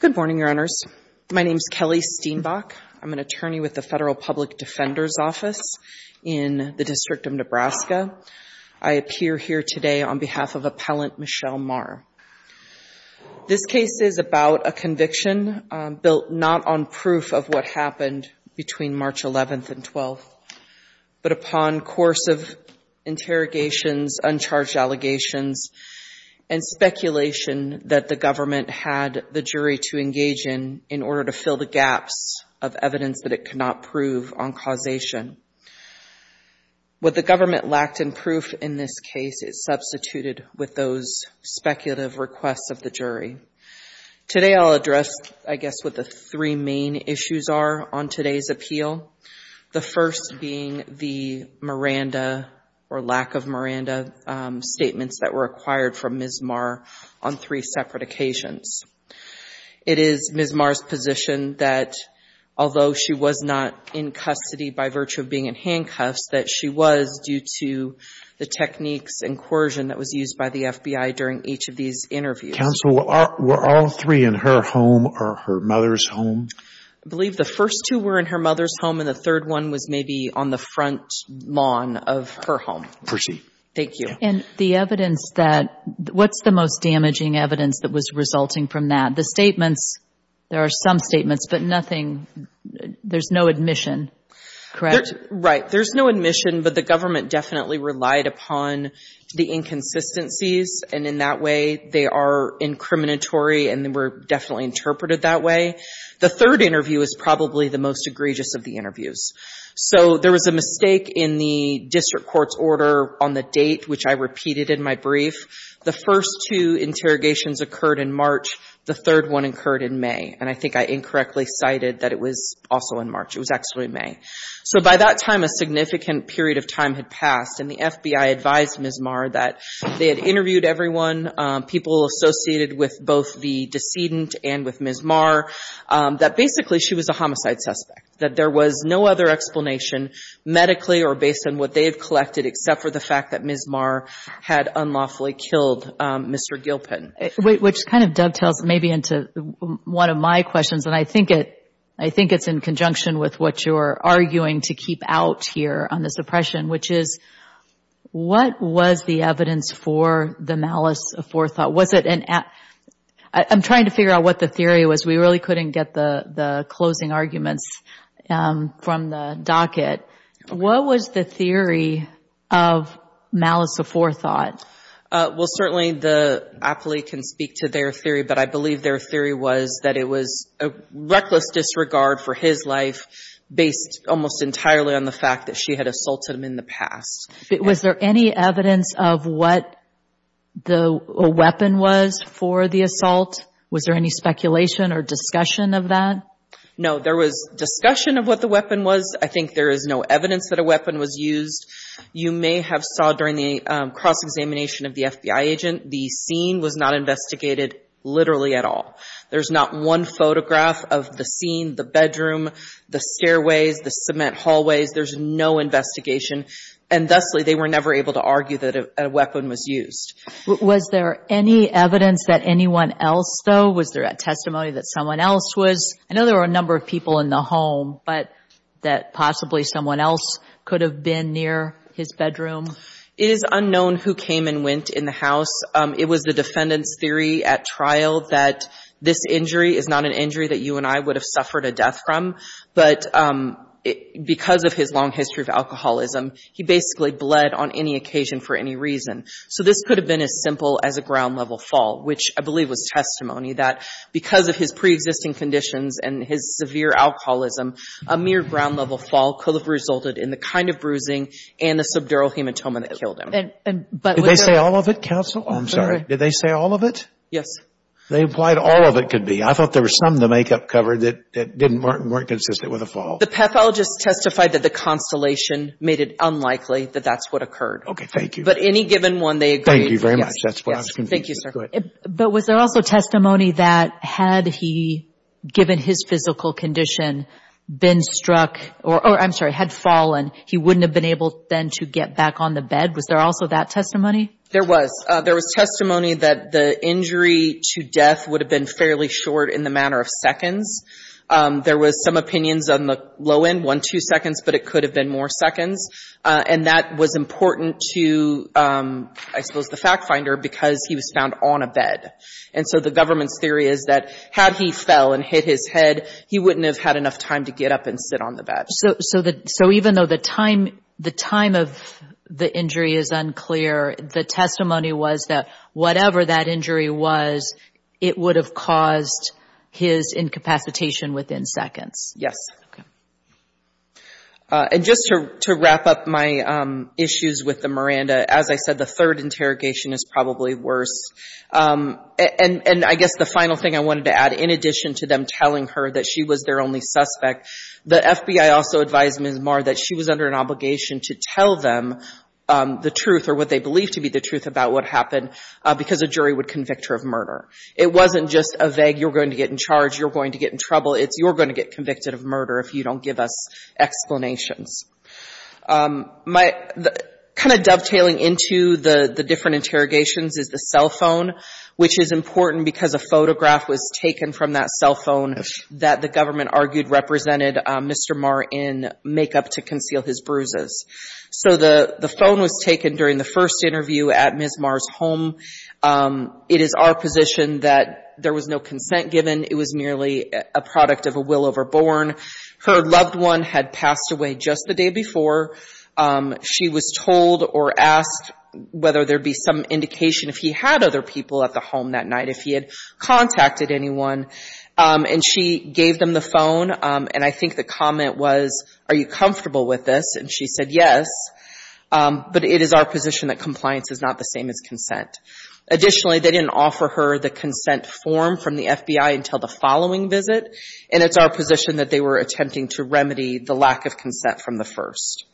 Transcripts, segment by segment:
Good morning, Your Honors. My name is Kelly Steenbach. I'm an attorney with the Federal Public Defender's Office in the District of Nebraska. I appear here today on behalf of Appellant Michelle Marr. This case is about a conviction built not on proof of what happened between March 11th and 12th, but upon course of interrogations, uncharged allegations, and speculation that the government had the jury to engage in in order to fill the gaps of evidence that it could not prove on causation. What the government lacked in proof in this case is substituted with those speculative requests of the jury. Today I'll address, I guess, what the three main issues are on today's appeal. The first being the Miranda or lack of Miranda statements that were acquired from Ms. Marr on three separate occasions. It is Ms. Marr's position that although she was not in custody by virtue of being in handcuffs, that she was due to the techniques and coercion that was used by the FBI during each of these interviews. Judge Goldberg Counsel, were all three in her home or her mother's home? Michelle Marr I believe the first two were in her mother's home and the third one was maybe on the front lawn of her home. Michelle Marr Thank you. Judge Goldberg And the evidence that, what's the most damaging evidence that was resulting from that? The statements, there are some statements, but nothing, there's no admission, correct? Michelle Marr Right. There's no admission, but the government definitely relied upon the inconsistencies and in that way they are incriminatory and they were definitely interpreted that way. The third interview is probably the most egregious of the interviews. So there was a mistake in the district court's order on the date which I repeated in my brief. The first two interrogations occurred in March, the third one occurred in May. And I think I incorrectly cited that it was also in March, it was actually May. So by that time a significant period of time had passed and the FBI advised Ms. Marr that they had interviewed everyone, people associated with both the decedent and with Ms. Marr, that basically she was a homicide suspect, that there was no other explanation medically or based on what they had collected except for the fact that Ms. Marr had unlawfully killed Mr. Gilpin. Judge Goldberg Which kind of dovetails maybe into one of my questions and I think it's in conjunction with what you're arguing to keep out here on this oppression, which is what was the evidence for the malice of forethought? Was we really couldn't get the closing arguments from the docket. What was the theory of malice of forethought? Ms. Marr Well, certainly the appellee can speak to their theory, but I believe their theory was that it was a reckless disregard for his life based almost entirely on the fact that she had assaulted him in the past. Judge Goldberg Was there any evidence of what the weapon was for the assault? Was there any speculation or discussion of that? Ms. Marr No, there was discussion of what the weapon was. I think there is no evidence that a weapon was used. You may have saw during the cross-examination of the FBI agent, the scene was not investigated literally at all. There's not one photograph of the scene, the bedroom, the stairways, the cement hallways. There's no investigation and thusly they were never able to argue that a weapon was used. Judge Goldberg Was there any evidence that anyone else though? Was there a testimony that someone else was? I know there were a number of people in the home, but that possibly someone else could have been near his bedroom? Ms. Marr It is unknown who came and went in the house. It was the defendant's theory at trial that this injury is not an injury that you and I would have suffered a death from, but because of his long history of alcoholism, he basically bled on any occasion for any reason. So this could have been as simple as a ground-level fall, which I believe was testimony that because of his pre-existing conditions and his severe alcoholism, a mere ground-level fall could have resulted in the kind of bruising and the subdural hematoma that killed him. Judge Goldberg Did they say all of it, counsel? I'm sorry. Did they say all of it? Judge Goldberg They implied all of it could be. I thought there was some in the makeup cover that weren't consistent with a fall. Ms. Marr The pathologist testified that the constellation made it unlikely that that's what occurred. Judge Goldberg Okay. Thank you. Ms. Marr But any given one, they agreed. Judge Goldberg Thank you very much. That's what I was confused about. Ms. Marr Yes. Thank you, sir. Judge Goldberg Go ahead. Ms. Marr But was there also testimony that had he, given his physical condition, been struck or, I'm sorry, had fallen, he wouldn't have been able then to get back on the bed? Was there also that testimony? Ms. Marr There was. There was testimony that the injury to death would have been fairly short in the matter of seconds. There was some opinions on the low end, one, two seconds, but it could have been more seconds. And that was important to, I suppose, the fact finder because he was found on a bed. And so the government's theory is that had he fell and hit his head, he wouldn't have had enough time to get up and sit on the bed. Judge Goldberg So even though the time of the injury is unclear, the testimony was that whatever that injury was, it would have caused his incapacitation within seconds? Ms. Marr Yes. Judge Goldberg Okay. Ms. Marr And just to wrap up my issues with the Miranda, as I said, the third interrogation is probably worse. And I guess the final thing I wanted to add, in addition to them telling her that she was their only suspect, the FBI also advised Ms. Marr that she was under an obligation to tell them the truth or what they believed to be the truth about what happened because a jury would convict her of murder. It wasn't just a vague, you're going to get in charge, you're going to get in trouble, it's you're going to get convicted of murder if you don't give us explanations. Kind of dovetailing into the different interrogations is the cell phone, which is important because a photograph was taken from that cell phone that the government argued represented Mr. Marr in makeup to conceal his bruises. So the phone was taken during the first interview at Ms. Marr's home. It is our position that there was no consent given. It was merely a product of a will overborne. Her loved one had passed away just the day before. She was told or asked whether there'd be some indication if he had other people at the home that night, if he had contacted anyone. And she gave them the phone and I think the comment was, are you comfortable with this? And she said yes, but it is our position that compliance is not the same as consent. Additionally, they didn't offer her the consent form from the FBI until the following visit, and it's our position that they were attempting to remedy the lack of consent from the first.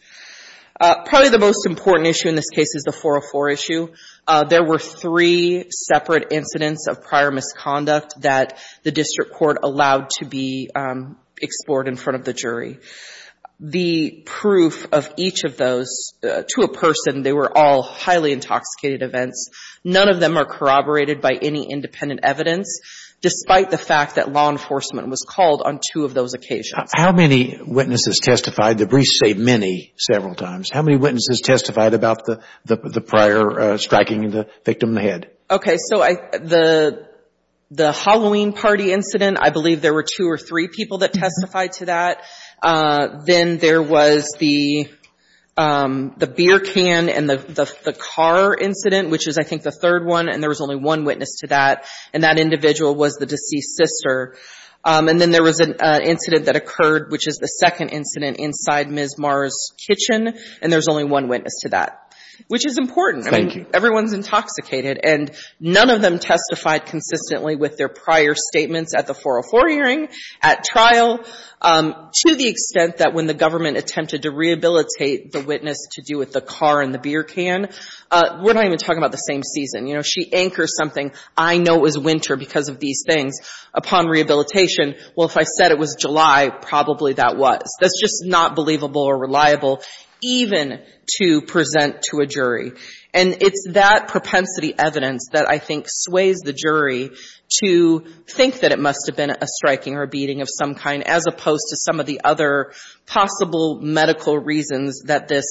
Probably the most important issue in this case is the 404 issue. There were three separate incidents of prior misconduct that the district court allowed to be explored in front of the jury. The proof of each of those to a person, they were all highly intoxicated events. None of them are corroborated by any independent evidence, despite the fact that law enforcement was called on two of those occasions. How many witnesses testified? The briefs say many, several times. How many witnesses testified about the prior striking of the victim in the head? Okay, so the Halloween party incident, I believe there were two or three people that testified to that. Then there was the beer can and the car incident, which is I think the third one and there was only one witness to that, and that individual was the deceased sister. And then there was an incident that occurred, which is the second incident inside Ms. Marr's kitchen, and there was only one witness to that, which is important. Thank you. I mean, everyone's intoxicated, and none of them testified consistently with their prior statements at the 404 hearing, at trial, to the extent that when the government attempted to rehabilitate the witness to do with the car and the beer can, we're not even talking about the same season. You know, she anchors something. I know it was winter because of these things. Upon rehabilitation, well, if I said it was July, probably that was. That's just not believable or reliable, even to present to a jury. And it's that propensity evidence that I think sways the jury to think that it must have been a striking or a beating of some kind, as opposed to some of the other possible medical reasons that this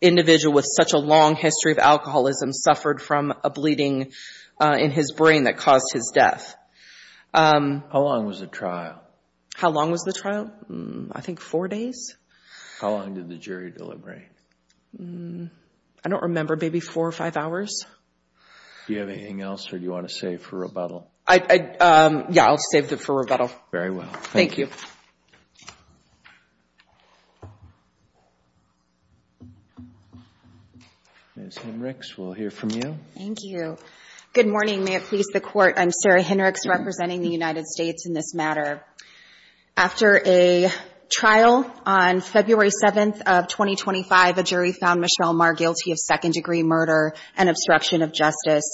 individual with such a long history of alcoholism suffered from a bleeding in his brain that caused his death. How long was the trial? How long was the trial? I think four days. How long did the jury deliberate? I don't remember. Maybe four or five hours. Do you have anything else, or do you want to save for rebuttal? Yeah, I'll save it for rebuttal. Very well. Thank you. Ms. Hinrichs, we'll hear from you. Thank you. Good morning. May it please the Court, I'm Sarah Hinrichs, representing the United States in this matter. After a trial on February 7th of 2025, a jury found Michelle Marr guilty of second-degree murder and obstruction of justice.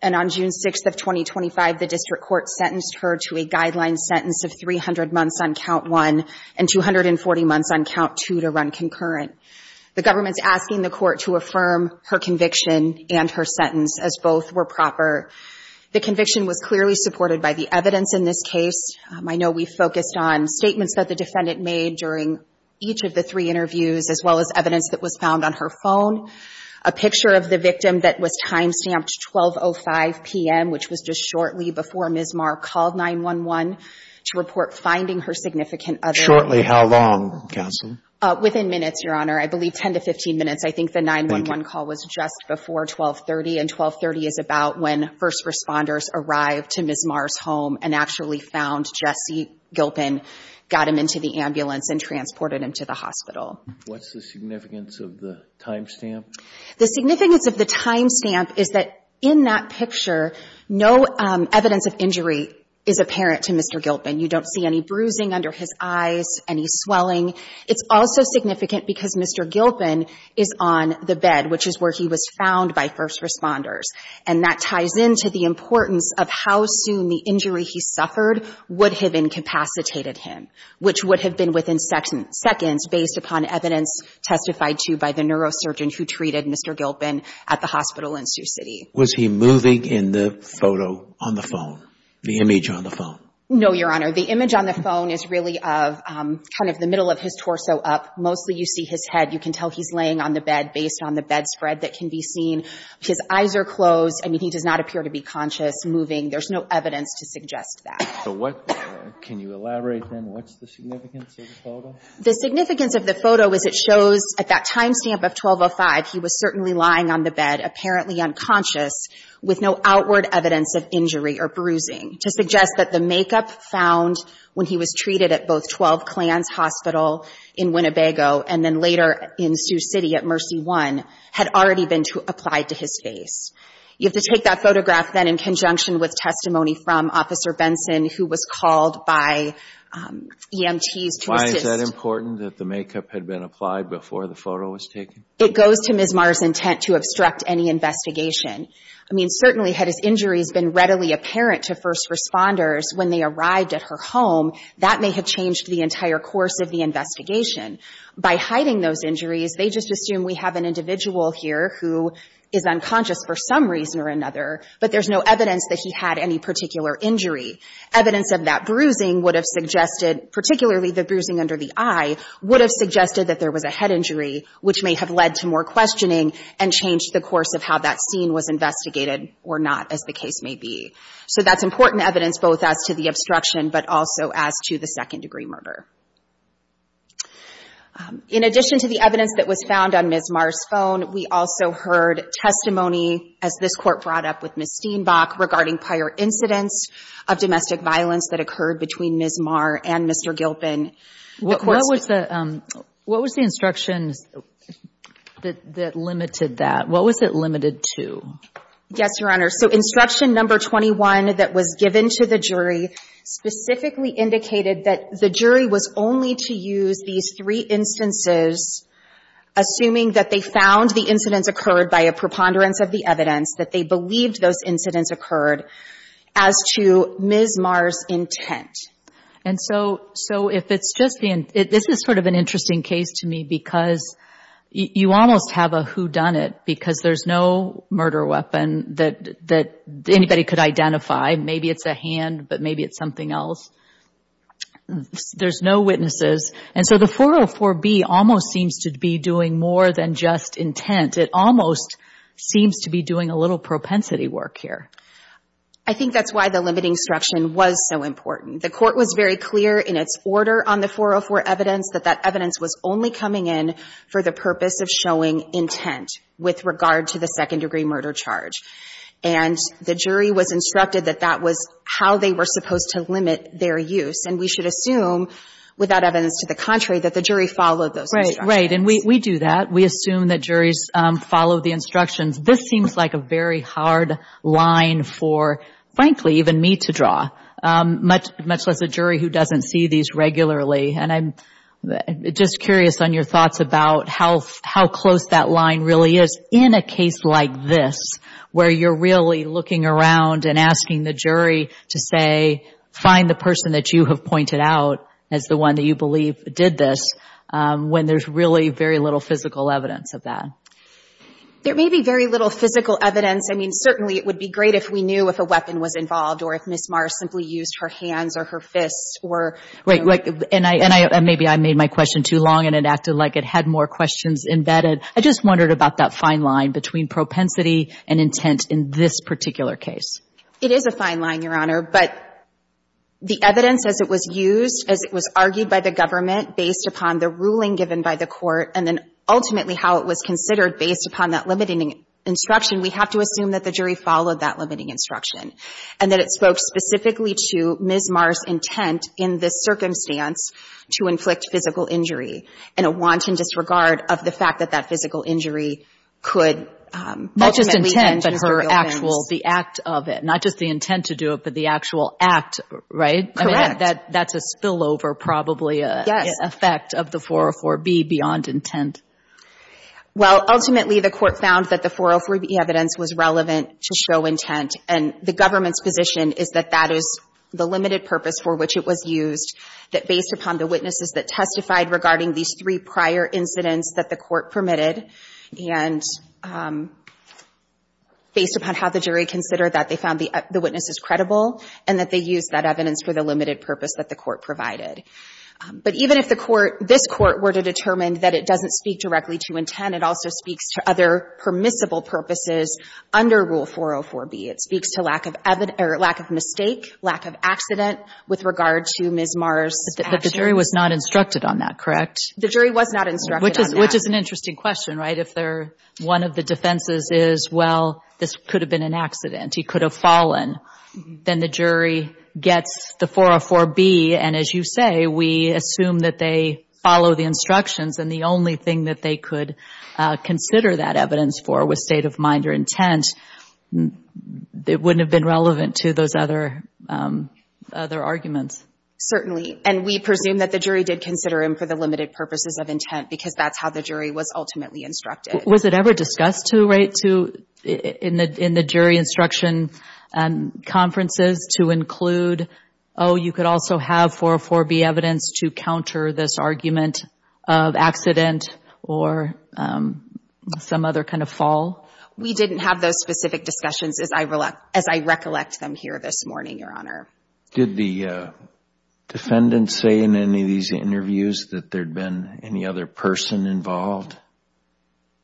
And on June 6th of 2025, the District Court sentenced her to a guideline sentence of 300 months on Count 1 and 240 months on Count 2 to run concurrent. The government's asking the Court to affirm her conviction and her sentence as both were proper. The conviction was clearly supported by the evidence in this case. I know we focused on statements that the defendant made during each of the three interviews, as well as evidence that was found on her phone, a picture of the victim that was timestamped 12.05 p.m., which was just shortly before Ms. Marr called 9-1-1 to report finding her significant other. Shortly, how long, counsel? Within minutes, Your Honor. I believe 10 to 15 minutes. I think the 9-1-1 call was just before 12.30, and 12.30 is about when first responders arrived to Ms. Marr's home and actually found Jesse Gilpin, got him into the ambulance, and transported him to the What's the significance of the timestamp? The significance of the timestamp is that in that picture, no evidence of injury is apparent to Mr. Gilpin. You don't see any bruising under his eyes, any swelling. It's also significant because Mr. Gilpin is on the bed, which is where he was found by first responders, and that ties into the importance of how soon the injury he suffered would have incapacitated him, which would have been within seconds based upon evidence testified to by the neurosurgeon who treated Mr. Gilpin at the hospital in Sioux City. Was he moving in the photo on the phone, the image on the phone? No, Your Honor. The image on the phone is really of kind of the middle of his torso up. Mostly you see his head. You can tell he's laying on the bed based on the bed spread that can be seen. His eyes are closed. I mean, he does not appear to be conscious, moving. There's no evidence to suggest that. Can you elaborate, then, what's the significance of the photo? The significance of the photo is it shows, at that time stamp of 12.05, he was certainly lying on the bed, apparently unconscious, with no outward evidence of injury or bruising, to suggest that the makeup found when he was treated at both 12 Clans Hospital in Winnebago and then later in Sioux City at Mercy One had already been applied to his face. You have to take that photograph, then, in conjunction with testimony from Officer Benson, who was called by EMTs to assist him. Is that important, that the makeup had been applied before the photo was taken? It goes to Ms. Marr's intent to obstruct any investigation. I mean, certainly had his injuries been readily apparent to first responders when they arrived at her home, that may have changed the entire course of the investigation. By hiding those injuries, they just assume we have an individual here who is unconscious for some reason or another, but there's no evidence that he had any particular injury. Evidence of that bruising would have suggested, particularly the bruising under the eye, would have suggested that there was a head injury, which may have led to more questioning and changed the course of how that scene was investigated or not, as the case may be. So that's important evidence both as to the obstruction, but also as to the second-degree murder. In addition to the evidence that was found on Ms. Marr's phone, we also heard testimony, as this Court brought up with Ms. Steenbach, regarding prior incidents of domestic violence that occurred between Ms. Marr and Mr. Gilpin. What was the instruction that limited that? What was it limited to? Yes, Your Honor. So instruction number 21 that was given to the jury specifically indicated that the jury was only to use these three instances, assuming that they found the incidents occurred by a preponderance of the evidence, that they believed those incidents occurred, as to Ms. Marr's intent. And so if it's just the—this is sort of an interesting case to me, because you almost have a whodunit, because there's no murder weapon that anybody could identify. Maybe it's a hand, but maybe it's something else. There's no witnesses. And so the 404B almost seems to be doing more than just intent. It almost seems to be doing a little propensity work here. I think that's why the limiting instruction was so important. The Court was very clear in its order on the 404 evidence that that evidence was only coming in for the purpose of showing intent with regard to the second-degree murder charge. And the jury was instructed that that was how they were supposed to limit their use. And we should assume, without evidence to the contrary, that the jury followed those instructions. Right. And we do that. We assume that juries follow the instructions. This seems like a very hard line for, frankly, even me to draw, much less a jury who doesn't see these regularly. And I'm just curious on your thoughts about how close that line really is in a case like this, where you're really looking around and asking the jury to say, find the person that you have pointed out as the one that you believe did this, when there's really very little physical evidence of that. There may be very little physical evidence. I mean, certainly, it would be great if we knew if a weapon was involved or if Ms. Marr simply used her hands or her fists or — Right. Right. And I — and maybe I made my question too long and it acted like it had more questions embedded. I just wondered about that fine line between propensity and intent in this particular case. It is a fine line, Your Honor. But the evidence, as it was used, as it was argued by the government based upon the ruling given by the court, and then ultimately how it was considered based upon that limiting instruction, we have to assume that the jury followed that limiting instruction and that it spoke specifically to Ms. Marr's intent in this circumstance to inflict physical injury in a wanton disregard of the fact that that physical injury could ultimately end in a real offense. Not just intent, but her actual — the act of it. Not just the intent to do it, but the actual act, right? Correct. That's a spillover, probably, effect of the 404B beyond intent. Well, ultimately, the court found that the 404B evidence was relevant to show intent. And the government's position is that that is the limited purpose for which it was used, that based upon the witnesses that testified regarding these three prior incidents that the court permitted, and based upon how the jury considered that, they found the witnesses credible and that they used that evidence for the limited purpose that the court provided. But even if the court — this court were to determine that it doesn't speak directly to intent, it also speaks to other permissible purposes under Rule 404B. It speaks to lack of — or lack of mistake, lack of accident with regard to Ms. Marr's action. But the jury was not instructed on that, correct? The jury was not instructed on that. Which is an interesting question, right? If they're — one of the defenses is, well, this could have been an accident. He could have fallen. Then the jury gets the 404B. And as you say, we assume that they follow the instructions. And the only thing that they could consider that evidence for was state of mind or intent. It wouldn't have been relevant to those other — other arguments. Certainly. And we presume that the jury did consider him for the limited purposes of intent because that's how the jury was ultimately instructed. Was it ever discussed to — right? To — in the jury instruction conferences to include, oh, you could also have 404B evidence to counter this argument of accident or some other kind of fall? We didn't have those specific discussions as I recollect them here this morning, Your Honor. Did the defendant say in any of these interviews that there'd been any other person involved?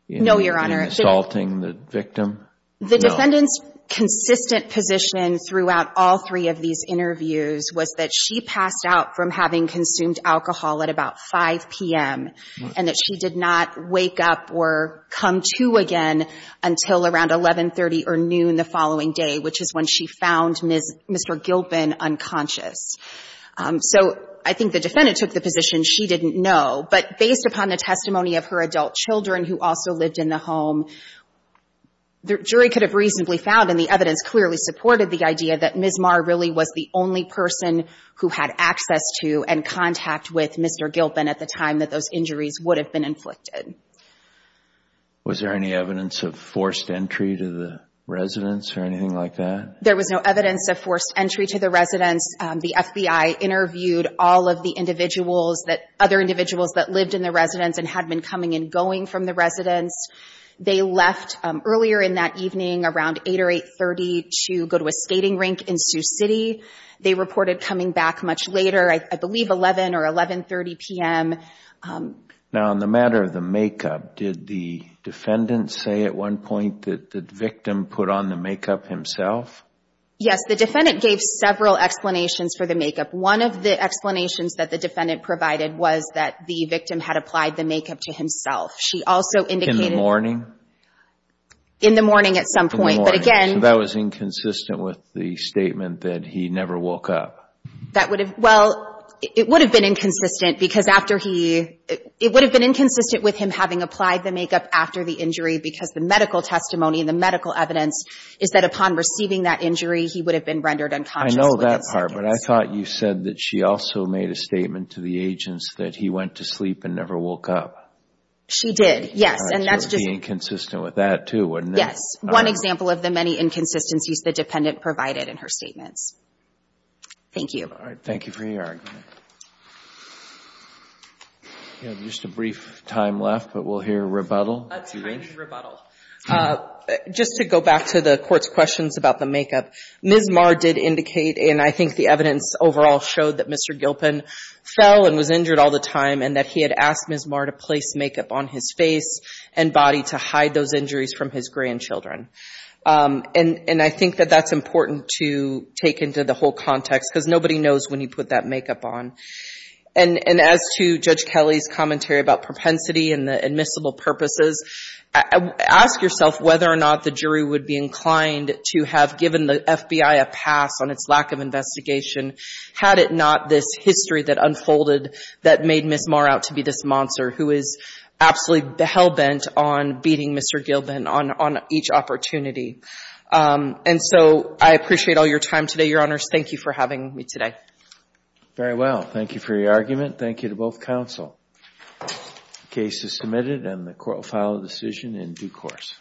No, Your Honor. In assaulting the victim? No. The defendant's consistent position throughout all three of these interviews was that she passed out from having consumed alcohol at about 5 p.m. and that she did not wake up or come to again until around 1130 or noon the following day, which is when she found Mr. Gilpin unconscious. So I think the defendant took the position she didn't know. But based upon the testimony of her adult children who also lived in the home, the jury could have reasonably found and the evidence clearly supported the idea that Ms. Marr really was the only person who had access to and contact with Mr. Gilpin at the time that those injuries would have been inflicted. Was there any evidence of forced entry to the residence or anything like that? There was no evidence of forced entry to the residence. The FBI interviewed all of the individuals, other individuals that lived in the residence and had been coming and going from the residence. They left earlier in that evening around 8 or 8.30 to go to a skating rink in Sioux City. They reported coming back much later, I believe 11 or 11.30 p.m. Now on the matter of the makeup, did the defendant say at one point that the victim put on the makeup himself? Yes. The defendant gave several explanations for the makeup. One of the explanations that the defendant provided was that the victim had applied the makeup to himself. She also indicated... In the morning? In the morning at some point. But again... In the morning. So that was inconsistent with the statement that he never woke up? That would have... Well, it would have been inconsistent because after he... It would have been inconsistent with him having applied the makeup after the injury because the medical testimony and the medical evidence is that upon receiving that injury, he would have been rendered unconscious within seconds. But I thought you said that she also made a statement to the agents that he went to sleep and never woke up. She did, yes. And that's just... I thought you were being consistent with that too, wasn't it? Yes. One example of the many inconsistencies the dependent provided in her statements. Thank you. All right. Thank you for your argument. We have just a brief time left, but we'll hear rebuttal. Time for rebuttal. Just to go back to the Court's questions about the makeup, Ms. Marr did indicate, and I think the evidence overall showed that Mr. Gilpin fell and was injured all the time and that he had asked Ms. Marr to place makeup on his face and body to hide those injuries from his grandchildren. And I think that that's important to take into the whole context because nobody knows when he put that makeup on. And as to Judge Kelly's commentary about propensity and the admissible purposes, ask yourself whether or not the jury would be inclined to have given the FBI a pass on its lack of investigation had it not this history that unfolded that made Ms. Marr out to be this monster who is absolutely hell-bent on beating Mr. Gilpin on each opportunity. And so I appreciate all your time today, Your Honors. Thank you for having me today. Very well. Thank you for your argument. Thank you to both counsel. The case is submitted and the Court will follow the decision in due course.